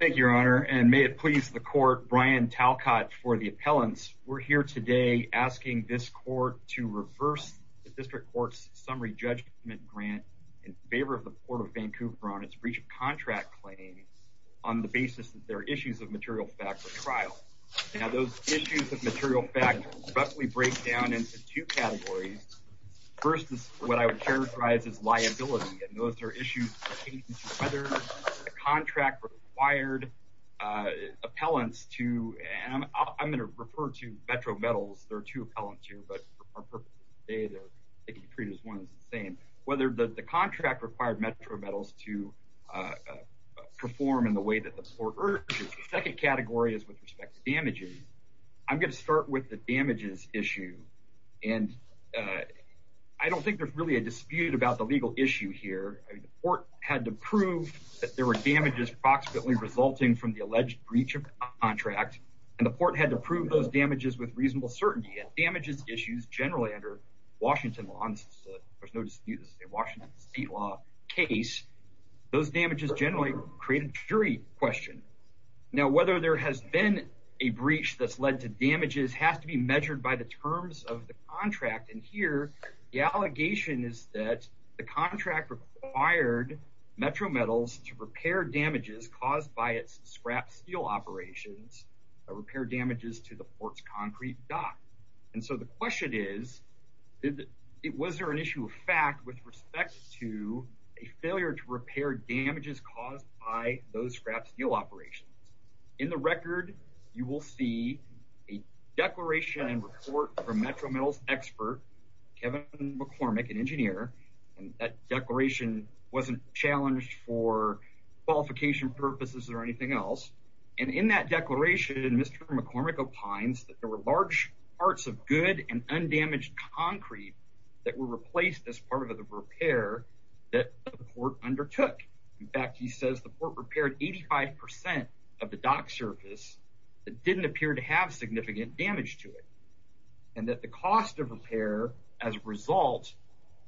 Thank you, Your Honor. And may it please the court, Brian Talcott for the appellants. We're here today asking this court to reverse the district court's summary judgment grant in favor of the Port of Vancouver on its breach of contract claim on the basis that there are issues of material factor trial. Now, those issues of material factor roughly break down into two categories. First is what I would characterize as liability, and required appellants to, and I'm going to refer to Metro Metals, there are two appellants here, but they can be treated as one and the same. Whether the contract required Metro Metals to perform in the way that the court urges. The second category is with respect to damages. I'm going to start with the damages issue. And I don't think there's really a dispute about the legal issue here. The court had to prove that there were damages approximately resulting from the alleged breach of contract. And the court had to prove those damages with reasonable certainty and damages issues generally under Washington law. There's no dispute. This is a Washington state law case. Those damages generally create a jury question. Now, whether there has been a breach that's led to damages has to be measured by the terms of the contract. And here the allegation is that the caused by its scrap steel operations, repair damages to the port's concrete dock. And so the question is, was there an issue of fact with respect to a failure to repair damages caused by those scrap steel operations? In the record, you will see a declaration and report from Metro Metals expert, Kevin McCormick, an engineer, and that declaration wasn't challenged for qualification purposes or anything else. And in that declaration, Mr McCormick opines that there were large parts of good and undamaged concrete that were replaced as part of the repair that the court undertook. In fact, he says the port repaired 85% of the dock surface that didn't appear to have significant damage to it and that the cost of repair as a result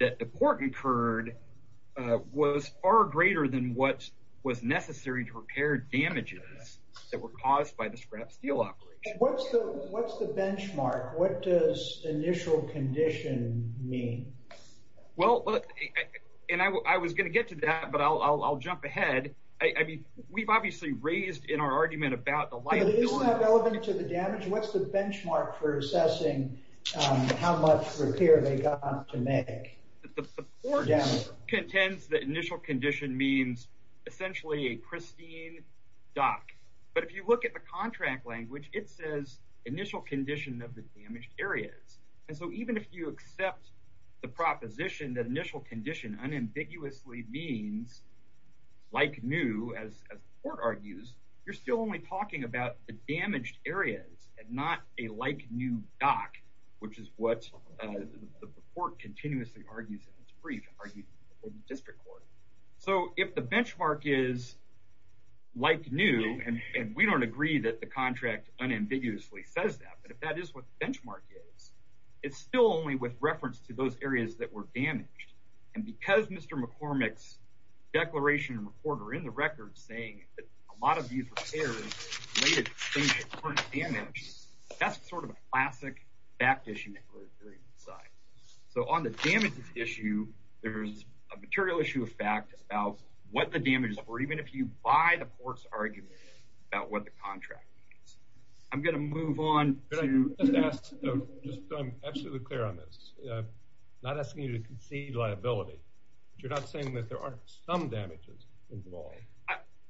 that the court incurred was far greater than what was necessary to repair damages that were caused by the scrap steel operation. What's the benchmark? What does initial condition mean? Well, and I was going to get to that, but I'll jump ahead. I mean, we've obviously raised in our argument about the light. But is that relevant to the damage? What's the benchmark for assessing how much repair they got to make? The court contends that initial condition means essentially a pristine dock. But if you look at the contract language, it says initial condition of the damaged areas. And so even if you accept the proposition that initial condition unambiguously means like new, as the court argues, you're still only talking about the damaged areas and not a like new dock, which is what the court continuously argues in its brief argued in the district court. So if the benchmark is like new, and we don't agree that the contract unambiguously says that, but if that is what the benchmark is, it's still only with reference to those areas that were damaged. And because Mr McCormick's declaration recorder in the record saying that a related patient was damaged, that's sort of a classic fact issue that we're hearing inside. So on the damages issue, there's a material issue of fact about what the damages were, even if you buy the court's argument about what the contract means. I'm going to move on to... Can I just ask, though, just so I'm absolutely clear on this, I'm not asking you to concede liability, but you're not saying that there aren't some damages involved?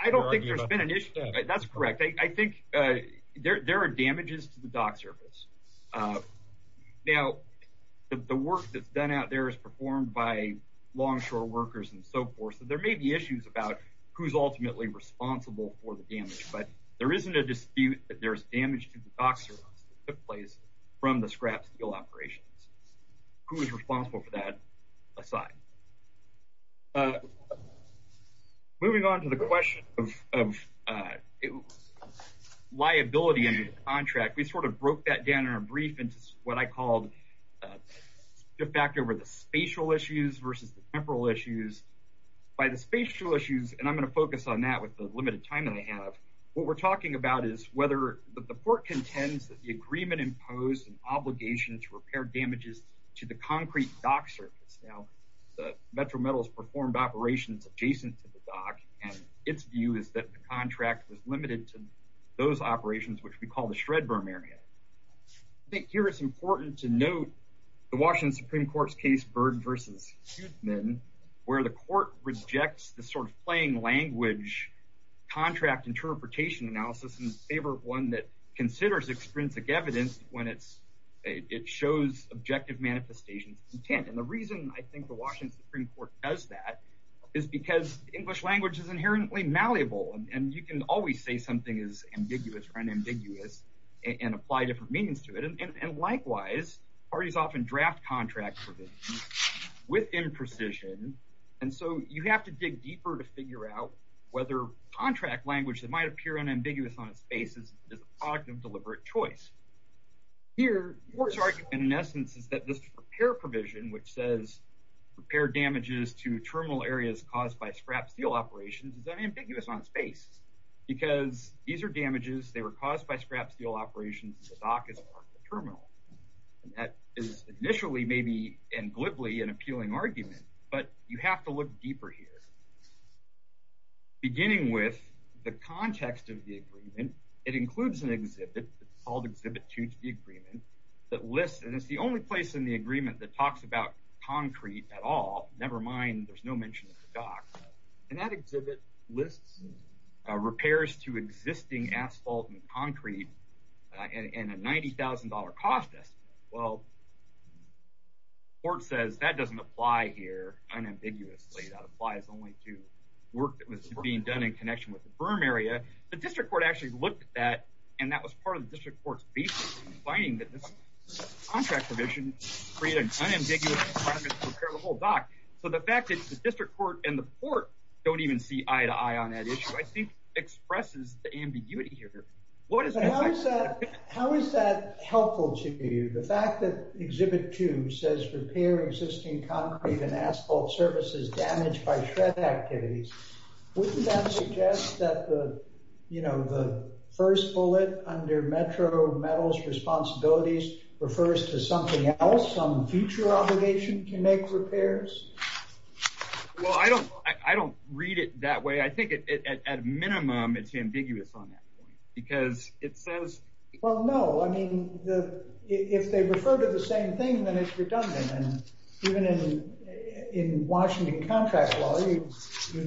I don't think there's been an issue. That's correct. I think there are damages to the dock surface. Now, the work that's done out there is performed by longshore workers and so forth, so there may be issues about who's ultimately responsible for the damage, but there isn't a dispute that there's damage to the dock surface that took place from the scrap steel operations. Who is responsible for that aside? Moving on to the question of liability in the contract, we sort of broke that down in our brief into what I called the fact over the spatial issues versus the temporal issues. By the spatial issues, and I'm going to focus on that with the limited time that I have, what we're talking about is whether the court contends that the agreement imposed an obligation to the concrete dock surface. Now, the Metro Metals performed operations adjacent to the dock, and its view is that the contract was limited to those operations, which we call the shred berm area. I think here it's important to note the Washington Supreme Court's case Byrd versus Huthman, where the court rejects the sort of playing language contract interpretation analysis in favor of one that considers extrinsic evidence when it shows objective manifestations of intent. And the reason I think the Washington Supreme Court does that is because English language is inherently malleable, and you can always say something is ambiguous or unambiguous and apply different meanings to it. And likewise, parties often draft contracts with imprecision, and so you have to dig deeper to figure out whether contract language that might appear unambiguous on its choice. Here, the court's argument in essence is that this repair provision, which says repair damages to terminal areas caused by scrap steel operations, is unambiguous on its face, because these are damages, they were caused by scrap steel operations, and the dock is part of the terminal. And that is initially maybe and glibly an appealing argument, but you have to look deeper here. Beginning with the context of the called Exhibit 2 to the agreement that lists, and it's the only place in the agreement that talks about concrete at all, never mind there's no mention of the dock, and that exhibit lists repairs to existing asphalt and concrete in a $90,000 cost estimate. Well, the court says that doesn't apply here unambiguously, that applies only to work that was being done in connection with the berm area. The district court actually looked at that, and that was part of the district court's basis, finding that this contract provision created an unambiguous requirement to repair the whole dock. So the fact that the district court and the court don't even see eye to eye on that issue, I think, expresses the ambiguity here. How is that helpful to you? The fact that Exhibit 2 says repair existing concrete and asphalt services damaged by shred activities, wouldn't that suggest that the first bullet under Metro Metals Responsibilities refers to something else, some future obligation to make repairs? Well, I don't read it that way. I think at minimum, it's ambiguous on that point, because it says... Well, no. I mean, if they refer to the same thing, then it's redundant, and even in Washington contract law, you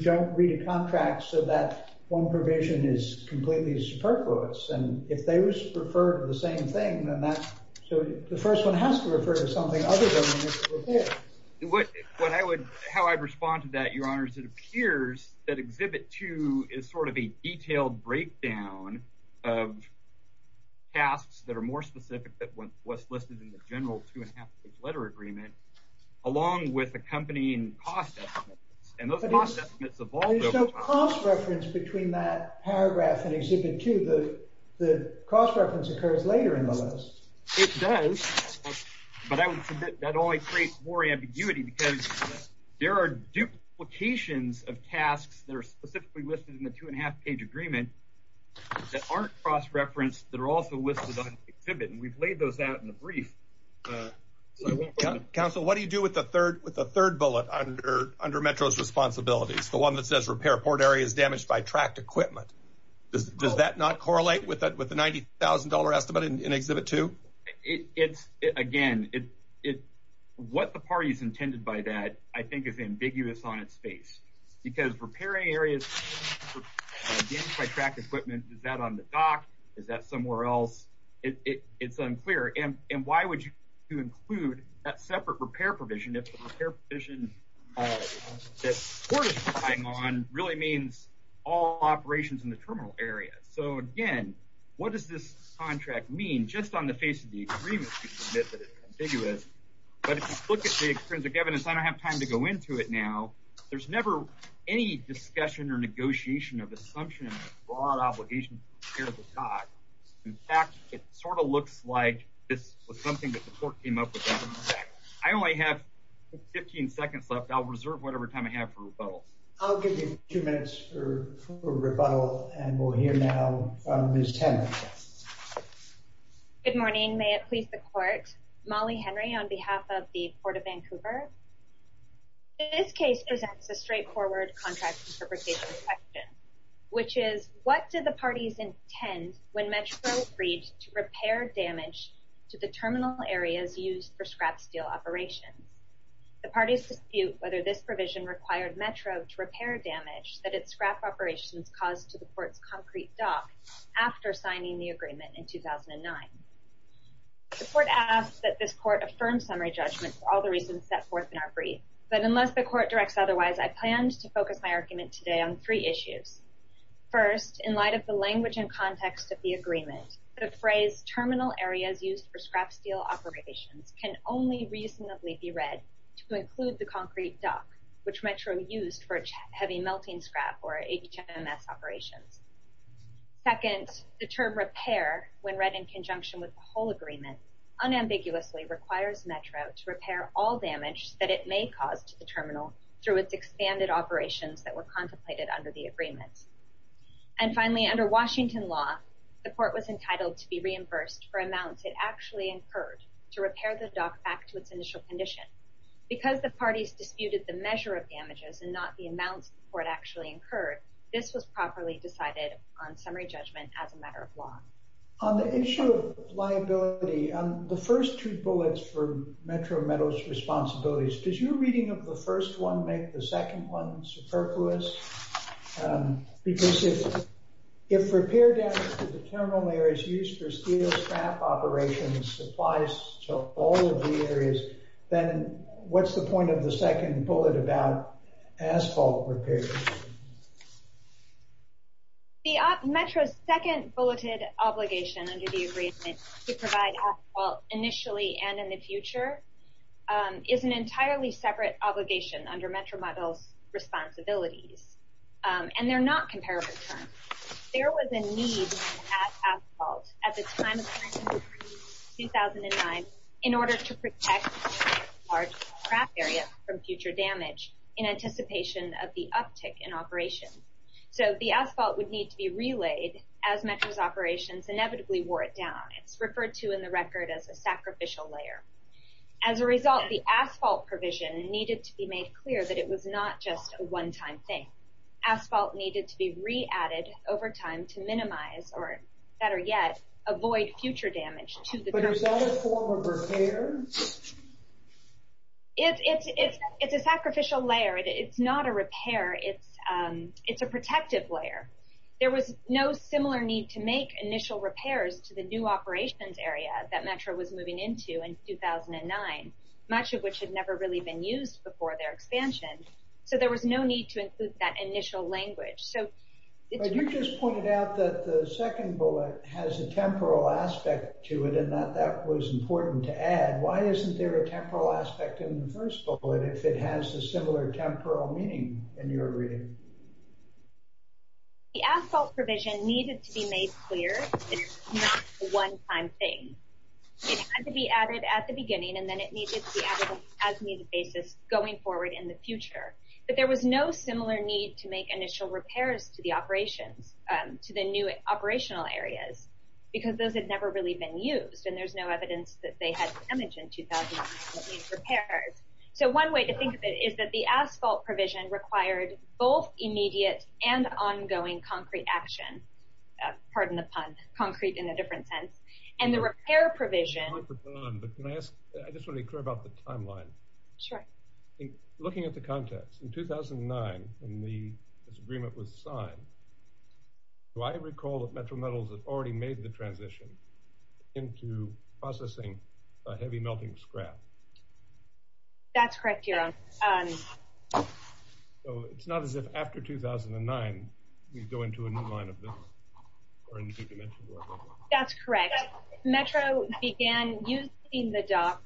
don't read a contract so that one provision is completely superfluous. And if those refer to the same thing, then that's... So the first one has to refer to something other than a repair. How I'd respond to that, Your Honor, is it appears that Exhibit 2 is sort of a detailed breakdown of tasks that are more specific than what's listed in the general two and a half page letter agreement, along with accompanying cost estimates. And those cost estimates evolve over time. But there's no cross reference between that paragraph in Exhibit 2. The cross reference occurs later in the list. It does, but I would submit that only creates more ambiguity, because there are duplications of tasks that are specifically listed in the two and a half page agreement that aren't cross referenced, that are also listed on Exhibit, and we've laid those out in the brief. Council, what do you do with the third bullet under Metro's responsibilities, the one that says repair port areas damaged by tract equipment? Does that not correlate with the $90,000 estimate in Exhibit 2? Again, what the party's intended by that, I think, is ambiguous on its face, because repairing areas damaged by tract equipment, is that on the list? What does this contract mean just on the face of the agreement? But if you look at the extrinsic evidence, I don't have time to go into it now. There's never any discussion or negotiation of assumption of broad obligation to repair the dock. In fact, it sort of looks like this was something that the court came up with. I only have 15 seconds left. I'll reserve whatever time I have for rebuttal. I'll give you two minutes for rebuttal, and we'll hear now from Ms. Tanner. Good morning. May it please the court. Molly Henry on behalf of the Court of Vancouver. This case presents a straightforward contract interpretation question, which is, what did the parties intend when Metro agreed to repair damage to the terminal areas used for scrap steel operations? The parties dispute whether this provision required Metro to repair damage that its scrap operations caused to the court's concrete dock after signing the agreement in 2009. The court asks that this court affirm summary judgment for all the reasons set forth in our brief. But unless the court directs otherwise, I planned to focus my argument today on three issues. First, in light of the language and the phrase terminal areas used for scrap steel operations can only reasonably be read to include the concrete dock, which Metro used for heavy melting scrap or HMS operations. Second, the term repair, when read in conjunction with the whole agreement, unambiguously requires Metro to repair all damage that it may cause to the terminal through its expanded operations that were contemplated under the agreement. And finally, under Washington law, the court was entitled to be reimbursed for amounts it actually incurred to repair the dock back to its initial condition. Because the parties disputed the measure of damages and not the amounts the court actually incurred, this was properly decided on summary judgment as a matter of law. On the issue of liability, on the first two bullets for Metro Metal's responsibilities, does your reading of the first one make the second one superfluous? Because if repair damage to the terminal areas used for steel scrap operations applies to all of the areas, then what's the point of the second bullet about asphalt repair? The Metro's second bulleted obligation under the agreement to provide initially and in the future is an entirely separate obligation under Metro Metal's responsibilities. And they're not comparable terms. There was a need at asphalt at the time of the agreement in 2009 in order to protect the large scrap area from future damage in anticipation of the uptick in operations. So the asphalt would need to be relayed as Metro's operations inevitably wore it down. It's referred to in the record as a sacrificial layer. As a result, the asphalt provision needed to be made clear that it was not just a one-time thing. Asphalt needed to be re-added over time to minimize, or better yet, avoid future damage to the... But is that a form of repair? It's a sacrificial layer. It's not a repair. It's a protective layer. There was no similar need to make initial repairs to the new operations area that Metro was moving into in 2009, much of which had never really been used before their expansion. So there was no need to include that initial language. But you just pointed out that the second bullet has a temporal aspect to it, and that was important to add. Why isn't there a temporal aspect in the first bullet if it has a similar temporal meaning in your reading? The asphalt provision needed to be made clear that it was not a one-time thing. It had to be added at the beginning, and then it needed to be added on an as-needed basis going forward in the future. But there was no similar need to make initial repairs to the operations, to the new operational areas, because those had never really been used, and there's no evidence that they had damage in 2009 repairs. So one way to think of it is that the asphalt provision required both immediate and ongoing concrete action. Pardon the pun. Concrete in a different sense. And the repair provision... I'm sorry to put it on, but can I ask... I just want to be clear about the timeline. Sure. Looking at the context, in 2009, when this agreement was signed, do I recall that Metro Metals had already made the transition into processing heavy melting scrap? That's correct, Jeroen. So it's not as if after 2009, we go into a new line of business, or into two-dimensional work? That's correct. Metro began using the dock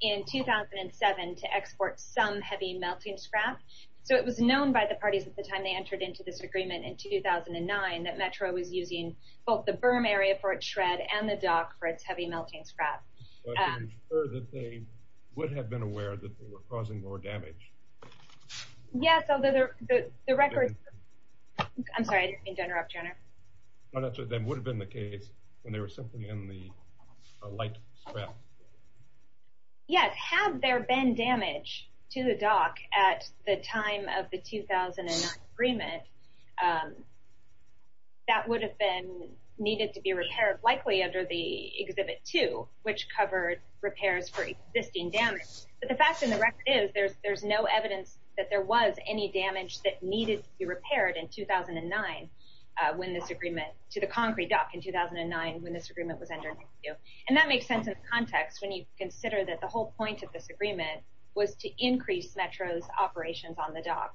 in 2007 to export some heavy melting scrap. So it was known by the parties at the time they entered into this agreement in 2009 that Metro was using both the berm area for its shred and the dock for its heavy melting scrap. But I'm sure that they would have been aware that they were causing more damage. Yes, although the records... I'm sorry, I didn't mean to interrupt you, Honor. No, that's what would have been the case when they were simply in the light scrap. Yes. Had there been damage to the dock at the time of the 2009 agreement, that would have been needed to be repaired, likely under the Exhibit 2, which covered repairs for existing damage. But the fact of the record is there's no evidence that there was any damage that needed to be repaired in 2009 when this agreement... to the concrete dock in 2009 when this agreement was entered into. And that makes sense in context when you consider that the whole point of this agreement was to increase Metro's operations on the dock.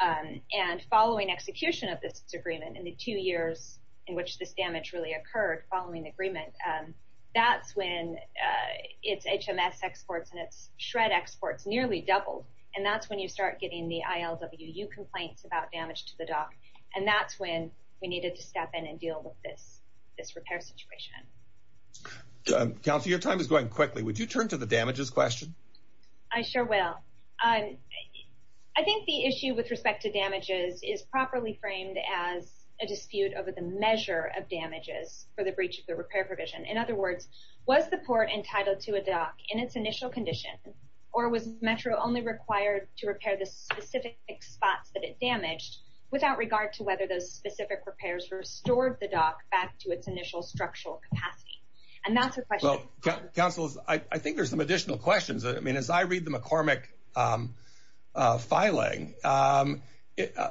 And following execution of this agreement, in the two years in which this damage really occurred following the agreement, that's when its HMS exports and its shred exports nearly doubled. And that's when you start getting the ILWU complaints about damage to the dock. And that's when we needed to step in and deal with this repair situation. Counselor, your time is going quickly. Would you turn to the damages question? I sure will. I think the issue with respect to damages is properly framed as a dispute over the measure of damages for the breach of the repair provision. In other words, was the port entitled to a dock in its initial condition, or was Metro only required to repair the specific spots that it damaged without regard to whether those specific repairs restored the dock back to its initial structural capacity? And that's a question... Counselors, I think there's some additional questions. I mean, as I read the McCormick filing, part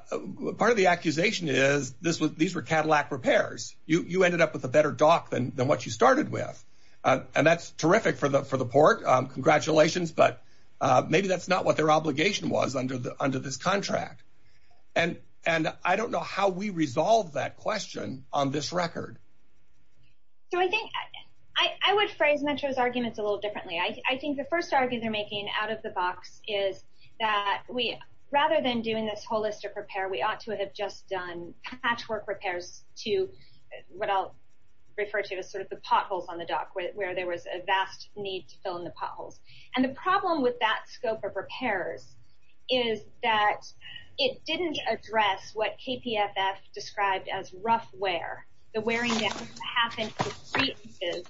of the accusation is this was... You ended up with a better dock than what you started with. And that's terrific for the port. Congratulations. But maybe that's not what their obligation was under this contract. And I don't know how we resolve that question on this record. So I think I would phrase Metro's arguments a little differently. I think the first argument they're making out of the box is that rather than doing this holistic repair, we ought to have just done patchwork repairs to what I'll refer to as sort of the potholes on the dock, where there was a vast need to fill in the potholes. And the problem with that scope of repairs is that it didn't address what KPFF described as rough wear. The wearing that happened to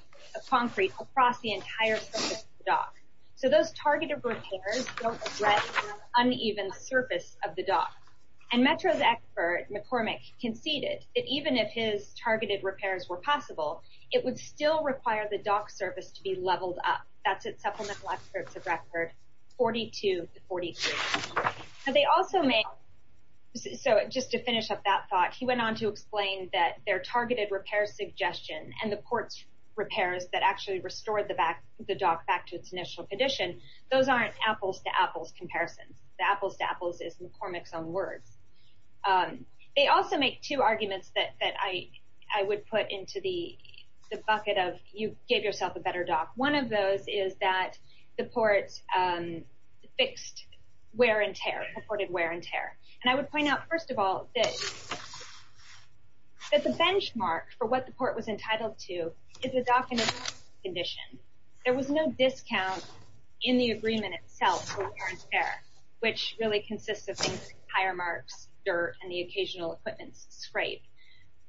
concrete across the entire surface of the dock. So those targeted repairs don't address the uneven surface of the dock. And Metro's expert, McCormick, conceded that even if his targeted repairs were possible, it would still require the dock surface to be leveled up. That's at supplemental efforts of record 42 to 43. So just to finish up that thought, he went on to explain that their targeted repair suggestion and the port's repairs that actually restored the dock back to its initial condition, those aren't apples-to-apples comparisons. The apples-to-apples is McCormick's own words. They also make two arguments that I would put into the bucket of, you gave yourself a better dock. One of those is that the port fixed wear and tear, purported wear and tear. And I would point out, first of all, that the benchmark for what the port was entitled to is the dock in its initial condition. There was no discount in the agreement itself for wear and tear, which really consists of things like tire marks, dirt, and the occasional equipment scrape.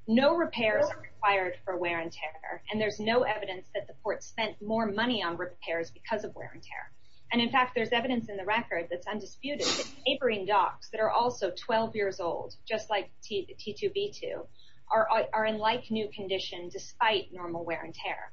No repairs are required for wear and tear, and there's no evidence that the port spent more money on repairs because of wear and tear. And in fact, there's evidence in the record that's undisputed that neighboring docks that are also 12 years old, just like T2V2, are in like-new condition despite normal wear and tear.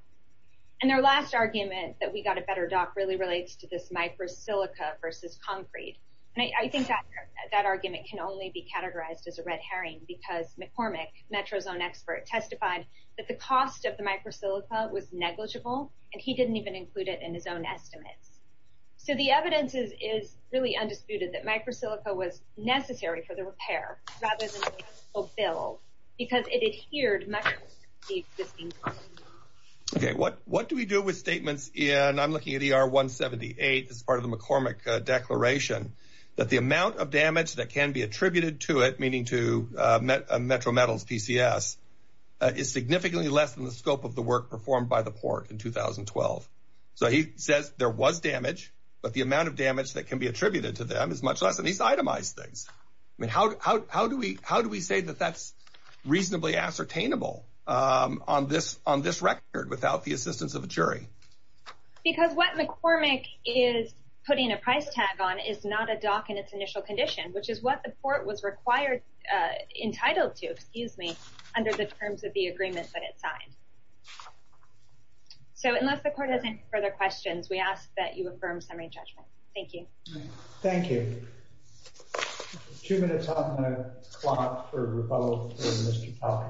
And their last argument that we got a better dock really relates to this micro-silica versus concrete. And I think that argument can only be categorized as a red herring because McCormick, Metro's own expert, testified that the cost of the micro-silica was negligible, and he didn't even include it in his own estimates. So the evidence is really undisputed that micro-silica was necessary for the repair rather than a bill because it adhered much to the existing policy. Okay, what do we do with statements? And I'm looking at ER 178 as part of the McCormick declaration that the amount of damage that can be attributed to it, meaning to Metro Metals PCS, is significantly less than the scope of the work performed by the port in 2012. So he says there was damage, but the amount of damage that can be attributed to them is much less. And he's itemized things. I mean, how do we say that that's reasonably ascertainable on this record without the assistance of a jury? Because what McCormick is putting a price tag on is not a dock in its initial condition, which is what the port was required, entitled to, excuse me, under the terms of the agreement that it signed. So unless the court has any further questions, we ask that you affirm summary judgment. Thank you. Thank you. Two minutes on the clock for rebuttal from Mr. Kelly.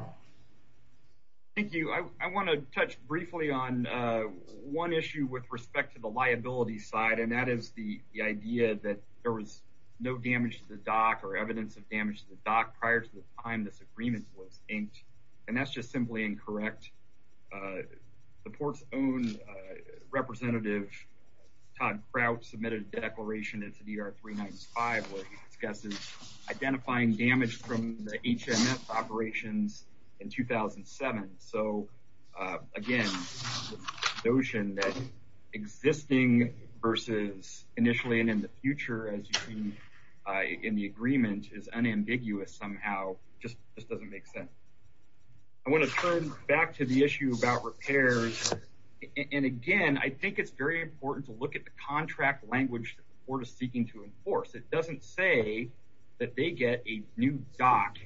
Thank you. I want to touch briefly on one issue with respect to the liability side, and that is the idea that there was no damage to the dock or evidence of damage to the dock prior to the time this agreement was inked. And that's just simply incorrect. The port's own representative, Todd Kraut, submitted a declaration into DR 395 where he discusses identifying damage from the HMS operations in 2007. So again, the notion that existing versus initially and in the future, as you see in the agreement, is unambiguous somehow just doesn't make sense. I want to turn back to the issue about repairs. And again, I think it's very important to look at the contract language that the port is seeking to enforce. It doesn't say that they get a new dock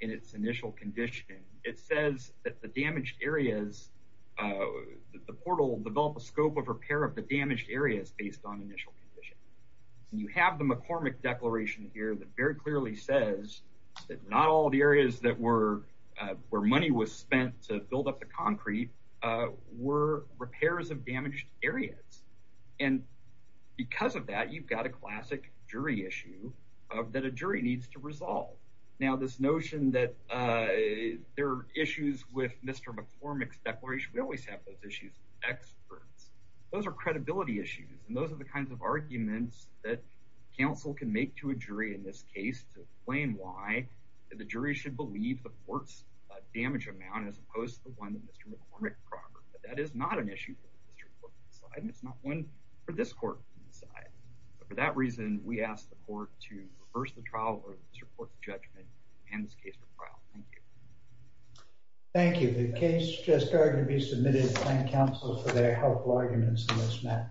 in its initial condition. It says that the damaged areas, the portal developed a scope of repair of the damaged areas based on initial condition. You have the McCormick declaration here that very clearly says that not all the areas where money was spent to build up the concrete were repairs of damaged areas. And because of that, you've got a classic jury issue that a jury needs to resolve. Now, this notion that there are issues with Mr. McCormick's declaration, we always have those issues with experts. Those are credibility issues, and those are the kinds of arguments that counsel can make to a jury in this case to explain why the jury should believe the court's damage amount as opposed to the one that Mr. McCormick proffered. But that is not an issue for the district court to decide, and it's not one for this court to decide. But for that reason, we ask the court to reverse the trial or support the judgment and this case for trial. Thank you. Thank you. The case just started to be submitted. Thank counsel for their helpful arguments on this matter.